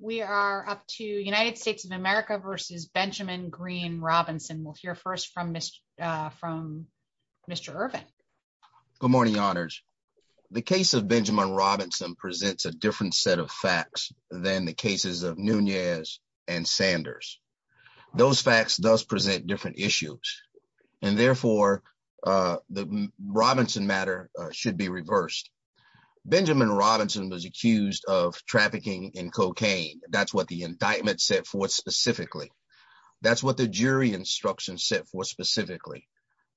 We are up to United States of America versus Benjamin Green Robinson. We'll hear first from Mr. Irvin. Good morning, honors. The case of Benjamin Robinson presents a different set of facts than the cases of Nunez and Sanders. Those facts does present different issues and therefore the Robinson matter should be reversed. Benjamin Robinson was accused of cocaine. That's what the indictment set forth specifically. That's what the jury instruction set forth specifically.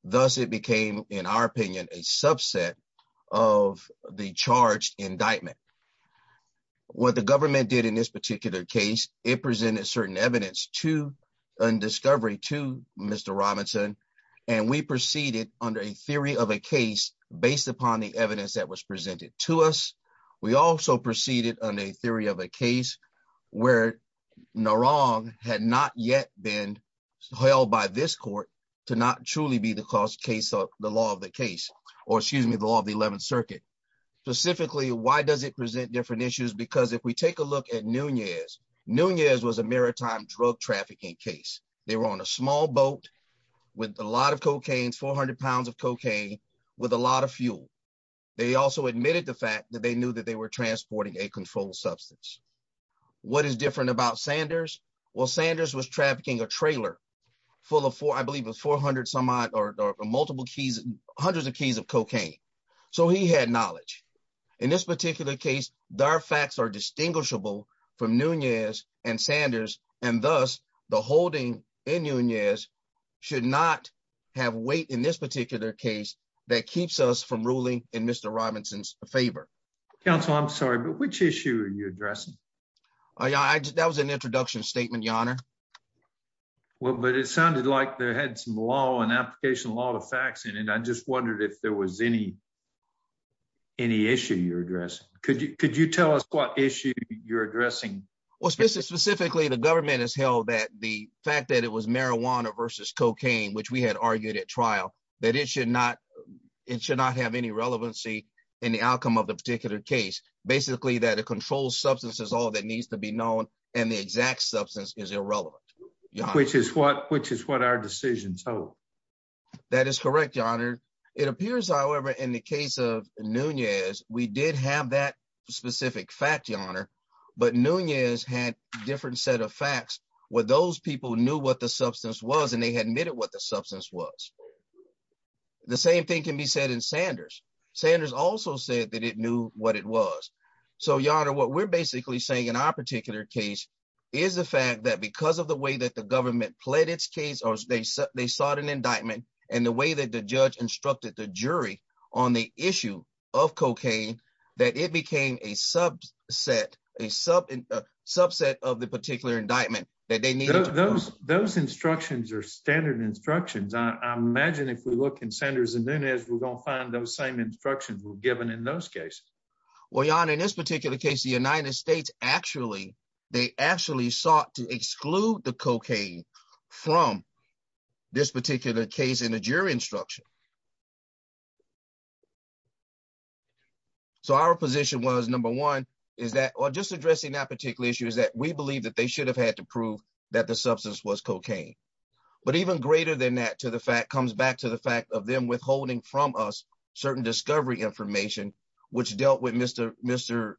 Thus it became, in our opinion, a subset of the charged indictment. What the government did in this particular case, it presented certain evidence to and discovery to Mr. Robinson and we proceeded under a theory of a case based upon the evidence that was presented to us. We also proceeded on a theory of a case where Narong had not yet been held by this court to not truly be the cause case of the law of the case, or excuse me, the law of the 11th circuit. Specifically, why does it present different issues? Because if we take a look at Nunez, Nunez was a maritime drug trafficking case. They were on a small boat with a lot of cocaine, 400 pounds of cocaine with a lot of fuel. They also admitted the fact that they knew that they were transporting a controlled substance. What is different about Sanders? Well, Sanders was trafficking a trailer full of four, I believe it was 400 some odd or multiple keys, hundreds of keys of cocaine. So he had knowledge. In this particular case, their facts are should not have weight in this particular case that keeps us from ruling in Mr. Robinson's favor. Counsel, I'm sorry, but which issue are you addressing? That was an introduction statement, your honor. Well, but it sounded like they had some law and application law to facts in it. I just wondered if there was any, any issue you're addressing? Could you tell us what issue you're addressing? Well, specifically, the government has held that the fact that it was marijuana versus cocaine, which we had argued at trial, that it should not, it should not have any relevancy in the outcome of the particular case. Basically, that a controlled substance is all that needs to be known. And the exact substance is irrelevant. Which is what, which is what our decisions. That is correct, your honor. It appears, however, in the case of Nunez, we did have that specific fact, your honor, but Nunez had different set of facts where those people knew what the substance was and they had admitted what the substance was. The same thing can be said in Sanders. Sanders also said that it knew what it was. So your honor, what we're basically saying in our particular case is the fact that because of the way that the government pled its case or they, they sought an indictment and the way that the judge instructed the jury on the issue of cocaine, that it became a subset, a sub, a subset of the particular indictment that they needed. Those instructions are standard instructions. I imagine if we look in Sanders and Nunez, we're going to find those same instructions were given in those cases. Well, your honor, in this particular case, the United States, actually, they actually sought to exclude the cocaine from this particular case in the jury instruction. So our position was number one, is that, or just addressing that particular issue, is that we believe that they should have had to prove that the substance was cocaine. But even greater than that, to the fact comes back to the fact of them withholding from us certain discovery information, which dealt with Mr. Mr.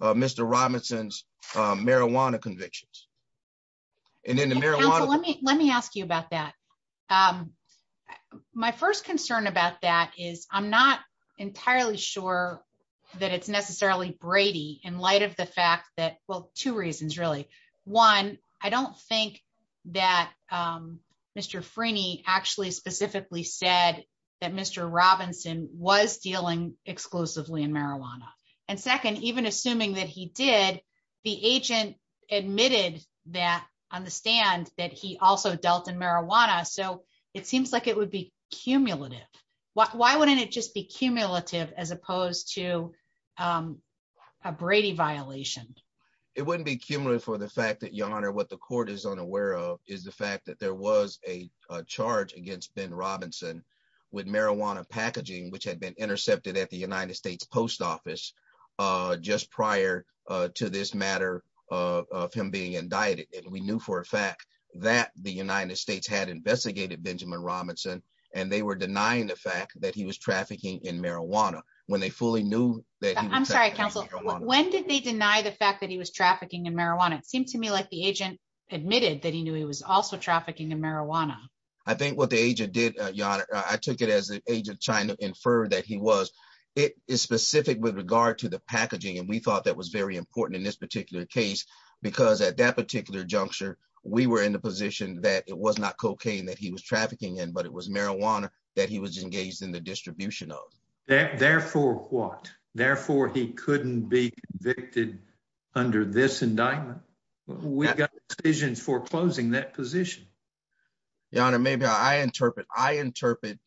Mr. Robinson's marijuana convictions. And then the marijuana. Let me, let me ask you about that. Um, my first concern about that is I'm not entirely sure that it's necessarily Brady in light of the fact that, well, two reasons really. One, I don't think that, um, Mr. Frini actually specifically said that Mr. Robinson was dealing exclusively in marijuana. And second, even assuming that he did, the agent admitted that on the stand that he also dealt in marijuana. So it seems like it would be cumulative. Why wouldn't it just be cumulative as opposed to, um, a Brady violation? It wouldn't be cumulative for the fact that your honor, what the court is unaware of is the fact that there was a charge against Ben Robinson with marijuana packaging, which had been intercepted at the United States post office, uh, just prior to this matter of him being indicted. And we knew for a fact that the United States had investigated Benjamin Robinson and they were denying the fact that he was trafficking in marijuana when they fully knew that. I'm sorry, counsel, when did they deny the fact that he was trafficking in marijuana? It seemed to me like the agent admitted that he knew he was also trafficking in marijuana. I think what the agent did, your honor, I took it as an agent trying to infer that he was, it is specific with regard to the packaging. And we thought that was very important in this particular case, because at that particular juncture, we were in the position that it was not cocaine that he was trafficking in, but it was marijuana that he was engaged in the distribution of that. Therefore, what? Therefore, he couldn't be convicted under this indictment. We've got decisions for closing that position. Your honor, maybe I interpret, I interpret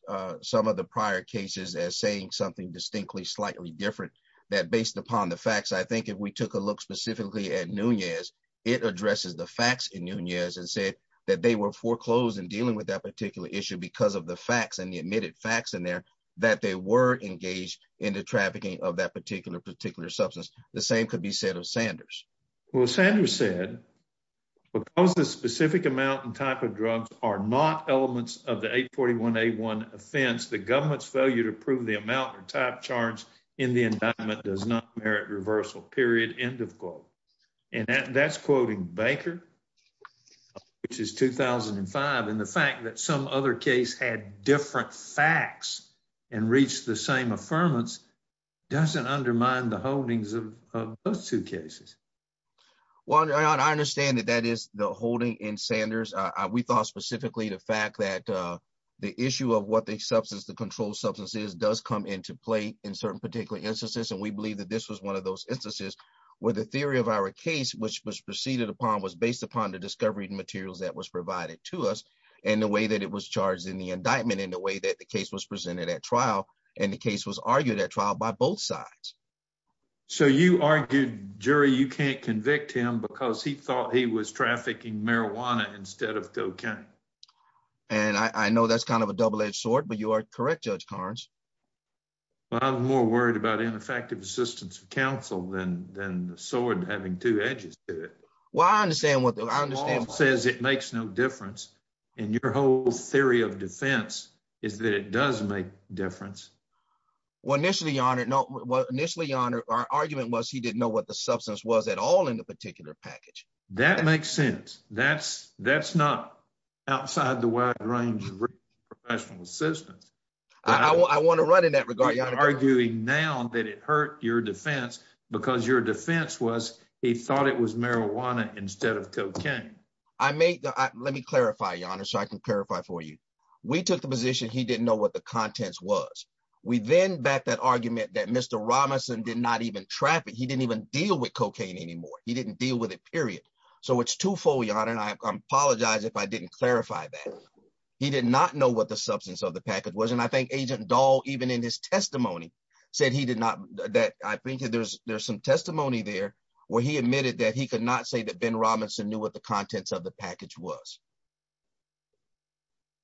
some of the prior cases as saying something distinctly, slightly different that based upon the facts, I think if we took a look specifically at Nunez, it addresses the facts in Nunez and said that they were foreclosed in dealing with that particular issue because of the facts and the admitted facts in there that they were engaged in the trafficking of that particular, particular substance. The same could be said of Sanders. Well, Sanders said, because the specific amount and type of drugs are not elements of the 841-A1 offense, the government's failure to prove the amount or type charge in the indictment does not merit reversal, period, end of quote. And that's quoting Baker, which is 2005. And the fact that some other case had different facts and reached the same affirmance doesn't undermine the holdings of those two cases. Well, your honor, I understand that that is the holding in Sanders. We thought specifically the fact that the issue of what the substance, the controlled substance is, does come into play in certain particular instances. And we believe that this was one of those instances where the theory of our case, which was proceeded upon, was based upon the discovery of materials that was provided to us and the way that it was charged in the indictment and the way that the case was presented at trial. And the case was argued at trial by both sides. So you argued, jury, you can't convict him because he thought he was trafficking marijuana instead of cocaine. And I know that's kind of a double-edged sword, but you are correct, Judge Harns. Well, I'm more worried about ineffective assistance of counsel than the sword having two edges to it. Well, I understand what the law says. It makes no difference. And your whole theory of defense is that it does make a difference. Well, initially, your honor, our argument was he didn't know what the substance was at all in the particular package. That makes sense. That's not outside the wide range of professional assistance. I want to run in that regard, your honor. You're arguing now that it hurt your defense because your defense was he thought it was marijuana instead of cocaine. Let me clarify, your honor, so I can clarify for you. We took the position he didn't know what the contents was. We then backed that argument that Mr. Robinson did not even traffic. He didn't even deal with cocaine anymore. He didn't deal with it, period. So it's twofold, your honor, and I apologize if I didn't clarify that. He did not know what the substance of the package was. And I think Agent Dahl, even in his testimony, said he did not, that I think there's some testimony there where he admitted that he could not say that Ben Robinson knew what the contents of the package was.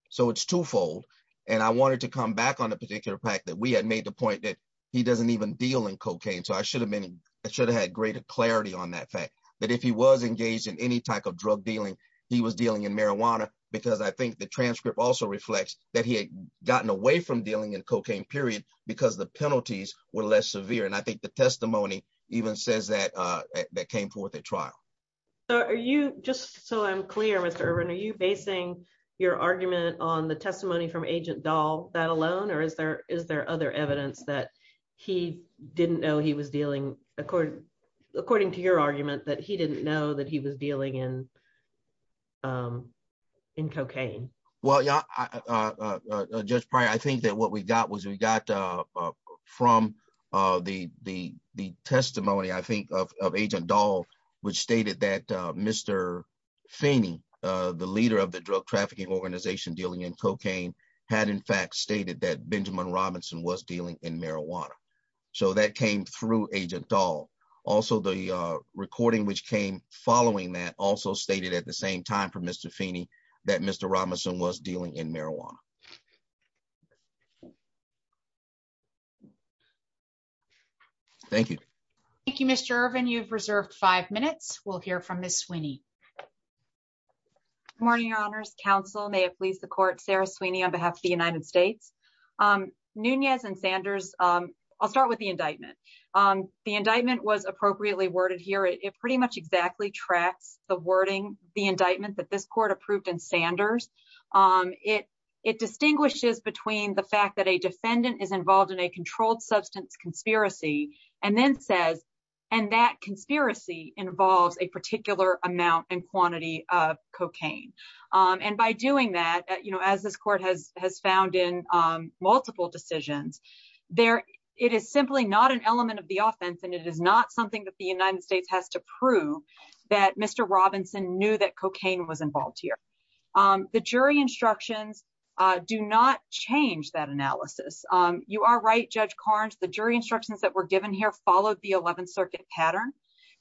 So it's twofold. And I wanted to come back on the particular fact that we had made the point that he doesn't even deal in cocaine. So I should have been, that if he was engaged in any type of drug dealing, he was dealing in marijuana, because I think the transcript also reflects that he had gotten away from dealing in cocaine, period, because the penalties were less severe. And I think the testimony even says that, that came forth at trial. So are you, just so I'm clear, Mr. Urban, are you basing your argument on the testimony from Agent Dahl, that alone, or is there, is there other evidence that he didn't know he was dealing, according to your argument, that he didn't know that he was dealing in cocaine? Well, yeah, Judge Pryor, I think that what we got was we got from the testimony, I think, of Agent Dahl, which stated that Mr. Feeney, the leader of the drug trafficking organization dealing in cocaine, had in fact stated that Benjamin Robinson was dealing in marijuana. So that came through Agent Dahl. Also, the recording which came following that also stated at the same time from Mr. Feeney, that Mr. Robinson was dealing in marijuana. Thank you. Thank you, Mr. Urban. You've reserved five minutes. We'll hear from Ms. Sweeney. Good morning, Your Honors. Counsel, may it please the court, Sarah Sweeney on behalf of the United States. Nunez and Sanders, I'll start with the indictment. The indictment was appropriately worded here. It pretty much exactly tracks the wording, the indictment that this court approved in Sanders. It, it distinguishes between the fact that a defendant is involved in a controlled substance conspiracy and then says, and that conspiracy involves a particular amount and quantity of cocaine. And by doing that, you know, as this court has, has found in multiple decisions, there, it is simply not an element of the offense. And it is not something that the United States has to prove that Mr. Robinson knew that cocaine was involved here. The jury instructions that were given here followed the 11th circuit pattern.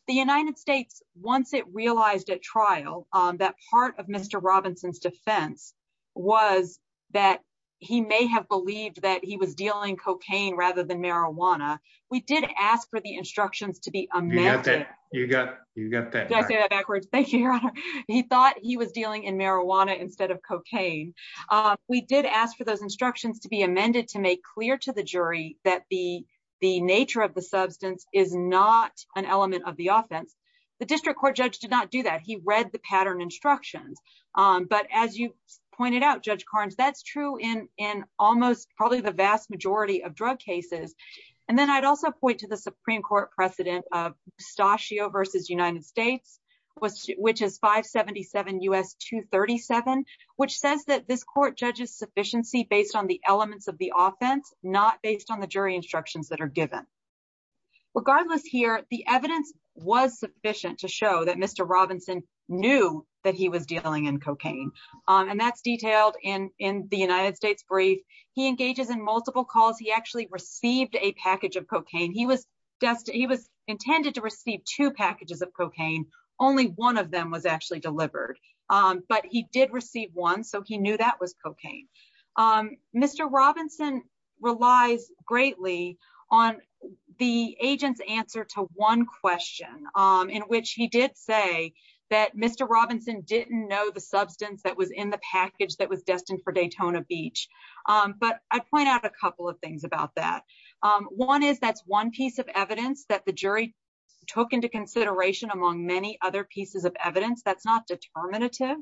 The United States, once it realized at trial that part of Mr. Robinson's defense was that he may have believed that he was dealing cocaine rather than marijuana. We did ask for the instructions to be amended. He thought he was dealing in marijuana instead of cocaine. We did ask for those instructions to be the nature of the substance is not an element of the offense. The district court judge did not do that. He read the pattern instructions. But as you pointed out, judge Carnes, that's true in, in almost probably the vast majority of drug cases. And then I'd also point to the Supreme court precedent of pistachio versus United States was, which is five 77 U S two 37, which says that this court judges sufficiency based on the elements of the offense, not based on the jury instructions that are given. Regardless here, the evidence was sufficient to show that Mr. Robinson knew that he was dealing in cocaine. And that's detailed in, in the United States brief. He engages in multiple calls. He actually received a package of cocaine. He was destined. He was intended to receive two packages of cocaine. Only one of them was actually delivered, but he did receive one. So he knew that was cocaine. Mr. Robinson relies greatly on the agent's answer to one question in which he did say that Mr. Robinson didn't know the substance that was in the package that was destined for Daytona beach. But I'd point out a couple of things about that. One is that's one piece of evidence that the jury took into consideration among many other pieces of evidence. That's not determinative.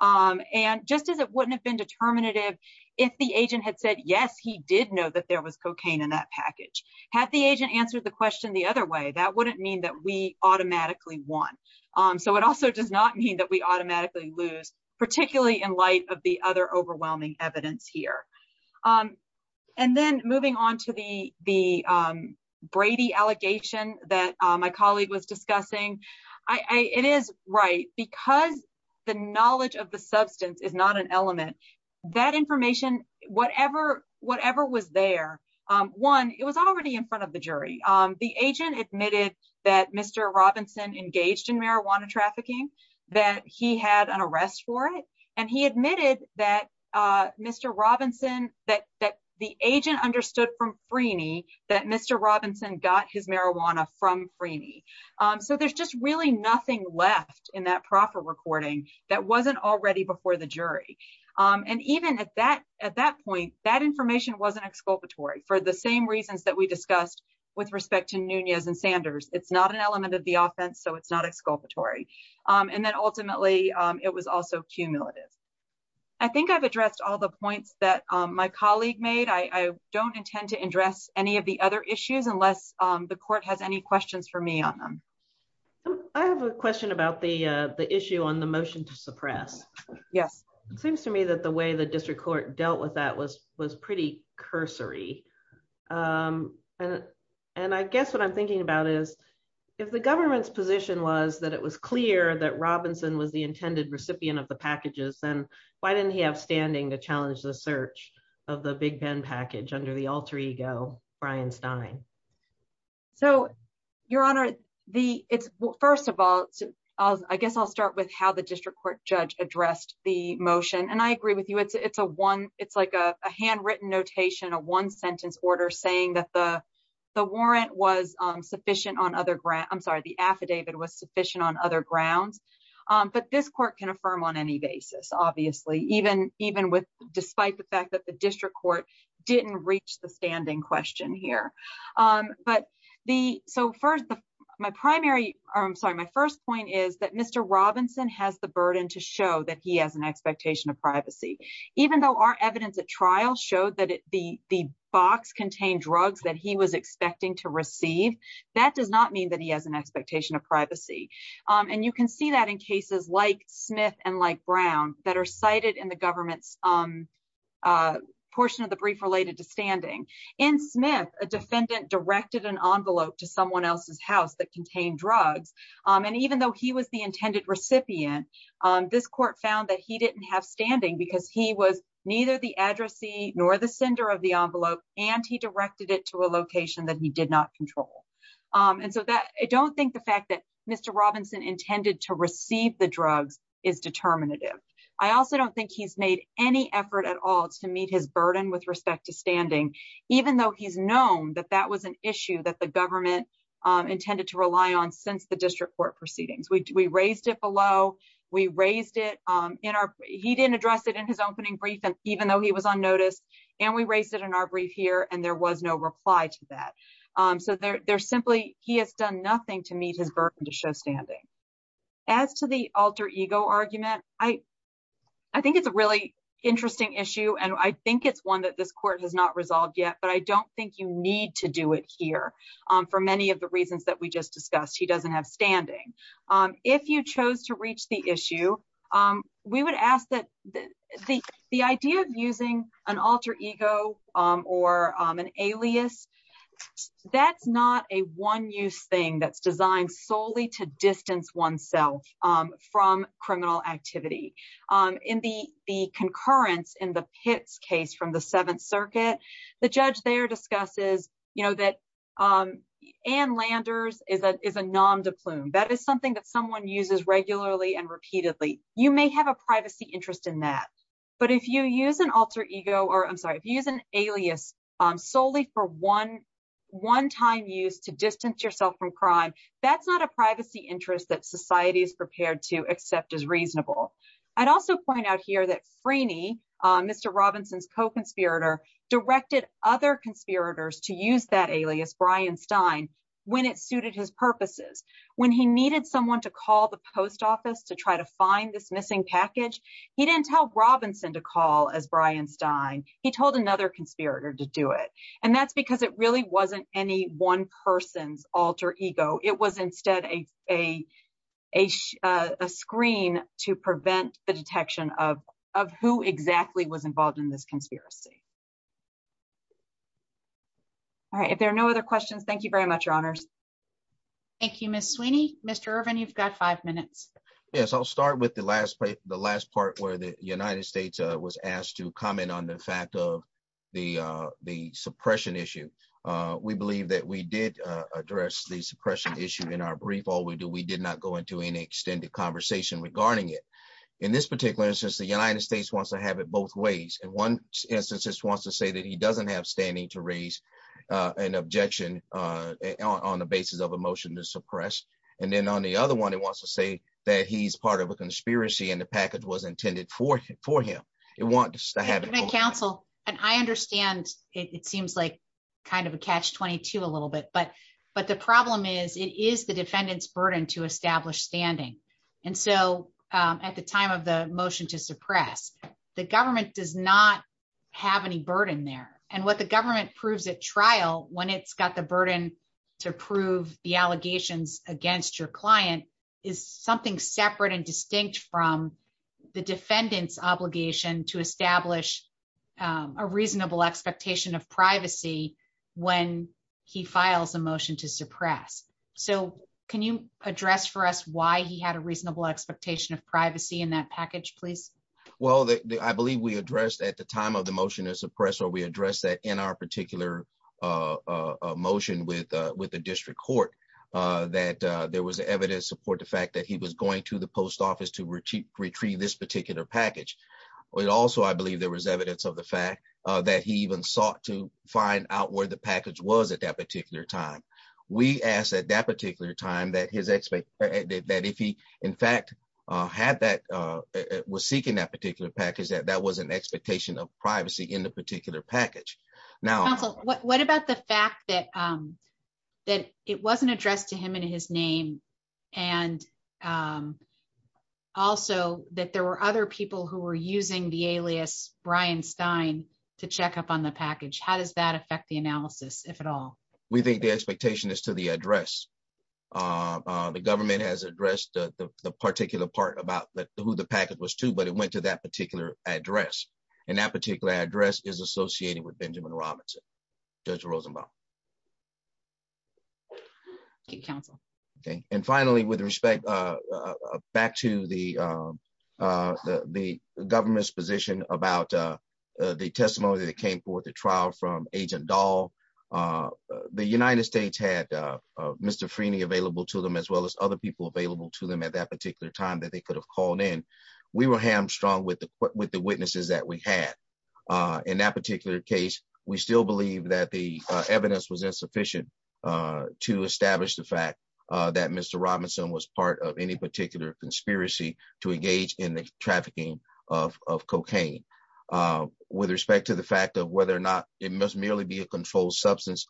And just as it wouldn't have been determinative, if the agent had said, yes, he did know that there was cocaine in that package, had the agent answered the question the other way, that wouldn't mean that we automatically won. So it also does not mean that we automatically lose particularly in light of the other overwhelming evidence here. And then moving on to the, the Brady allegation that my colleague was I, I, it is right because the knowledge of the substance is not an element that information, whatever, whatever was there. One, it was already in front of the jury. The agent admitted that Mr. Robinson engaged in marijuana trafficking, that he had an arrest for it. And he admitted that Mr. Robinson, that, that the agent understood from Franny, that Mr. Robinson got his marijuana from Franny. So there's just really nothing left in that proper recording that wasn't already before the jury. And even at that, at that point, that information wasn't exculpatory for the same reasons that we discussed with respect to Nunez and Sanders. It's not an element of the offense, so it's not exculpatory. And then ultimately it was also cumulative. I think I've addressed all the points that my colleague made. I don't intend to address any of the other issues unless the questions for me on them. I have a question about the, the issue on the motion to suppress. Yes. It seems to me that the way the district court dealt with that was, was pretty cursory. And, and I guess what I'm thinking about is if the government's position was that it was clear that Robinson was the intended recipient of the packages, then why didn't he have standing to Brian Stein? So your honor, the it's first of all, I guess I'll start with how the district court judge addressed the motion. And I agree with you. It's, it's a one, it's like a handwritten notation, a one sentence order saying that the, the warrant was sufficient on other grounds. I'm sorry, the affidavit was sufficient on other grounds. But this court can affirm on any basis, obviously, even, even with, despite the fact that the district court didn't reach the standing question here. But the, so first the, my primary, or I'm sorry, my first point is that Mr. Robinson has the burden to show that he has an expectation of privacy, even though our evidence at trial showed that the, the box contained drugs that he was expecting to receive. That does not mean that he has an expectation of privacy. And you can see that in cases like Smith and like Brown that are portion of the brief related to standing. In Smith, a defendant directed an envelope to someone else's house that contained drugs. And even though he was the intended recipient, this court found that he didn't have standing because he was neither the addressee nor the sender of the envelope, and he directed it to a location that he did not control. And so that I don't think the fact that Mr. Robinson intended to receive the drugs is with respect to standing, even though he's known that that was an issue that the government intended to rely on since the district court proceedings, we raised it below, we raised it in our, he didn't address it in his opening brief, and even though he was on notice, and we raised it in our brief here, and there was no reply to that. So there, there's simply, he has done nothing to meet his burden to show standing. As to the alter ego argument, I, I think it's a really interesting issue. And I think it's one that this court has not resolved yet. But I don't think you need to do it here. For many of the reasons that we just discussed, he doesn't have standing. If you chose to reach the issue, we would ask that the, the idea of using an alter ego, or an alias, that's not a one use thing that's designed solely to distance oneself from criminal activity. In the, the concurrence in the Pitts case from the Seventh Circuit, the judge there discusses, you know, that Ann Landers is a, is a nom de plume, that is something that someone uses regularly and repeatedly, you may have a privacy interest in that. But if you use an alter ego, or I'm sorry, if you use an alias, solely for one, one time use to distance yourself from crime, that's not a privacy interest that society is prepared to accept as reasonable. I'd also point out here that Freeney, Mr. Robinson's co-conspirator, directed other conspirators to use that alias, Brian Stein, when it suited his purposes. When he needed someone to call the post office to try to find this missing package, he didn't tell Robinson to call as Brian Stein, he told another conspirator to do it. And that's because it really wasn't any one person's alter ego, it was instead a, a, a, a screen to prevent the detection of, of who exactly was involved in this conspiracy. All right, if there are no other questions, thank you very much, your honors. Thank you, Ms. Sweeney. Mr. Irvin, you've got five minutes. Yes, I'll start with the last part, the last part where the United States was asked to comment on the fact of the, the suppression issue. We believe that we did address the suppression issue in our brief. All we do, we did not go into any extended conversation regarding it. In this particular instance, the United States wants to have it both ways. In one instance, this wants to say that he doesn't have standing to raise an objection on the basis of a motion to suppress. And then on the other one, it wants to say that he's part of a conspiracy and the package was intended for, for him. It wants to have counsel. And I understand it seems like kind of a catch 22 a little bit, but, but the problem is it is the defendant's burden to establish standing. And so at the time of the motion to suppress, the government does not have any burden there. And what the government proves at trial, when it's got the burden to prove the allegations against your client is something separate and distinct from the defendant's obligation to establish a reasonable expectation of privacy when he files a motion to suppress. So can you address for us why he had a reasonable expectation of privacy in that package, please? Well, I believe we addressed at the time of the motion to suppress, or we addressed that in our particular motion with, with the district court, that there was evidence support, the fact that he was going to the post office to retrieve, retrieve this particular package. It also, I believe there was evidence of the fact that he even sought to find out where the package was at that particular time. We asked at that particular time that his expect that if he in fact had that was seeking that particular package, that that was an expectation of privacy in the particular package. Now, what about the fact that, that it wasn't addressed to him and his name, and also that there were other people who were using the alias Brian Stein to check up on the package? How does that affect the analysis, if at all? We think the expectation is to the address. The government has addressed the particular part about who the package was to, but it went to that particular address. And that particular address is associated with Benjamin Robinson, Judge Rosenbaum. Thank you, counsel. Okay. And finally, with respect, back to the, the, the government's position about the testimony that came forth at trial from agent Dahl, the United States had Mr. Freeney available to them as well as other people available to them at that particular time that they could have called in. We were hamstrung with the, with the witnesses that we had. In that particular case, we still believe that the evidence was insufficient to establish the fact that Mr. Robinson was part of any particular conspiracy to engage in the trafficking of, of cocaine. With respect to the fact of whether or not it must merely be a controlled substance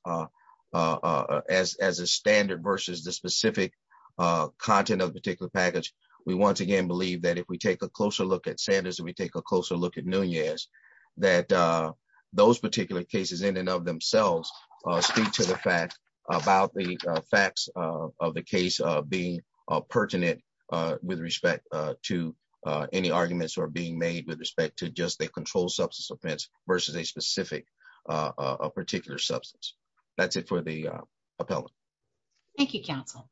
as, as a standard versus the specific content of the particular package. We once again, believe that if we take a closer look at Sanders and we take a closer look at Nunez, that those particular cases in and of themselves speak to the fact about the facts of the case being pertinent with respect to any arguments that are being made with respect to just the that's it for the appellant. Thank you, counsel.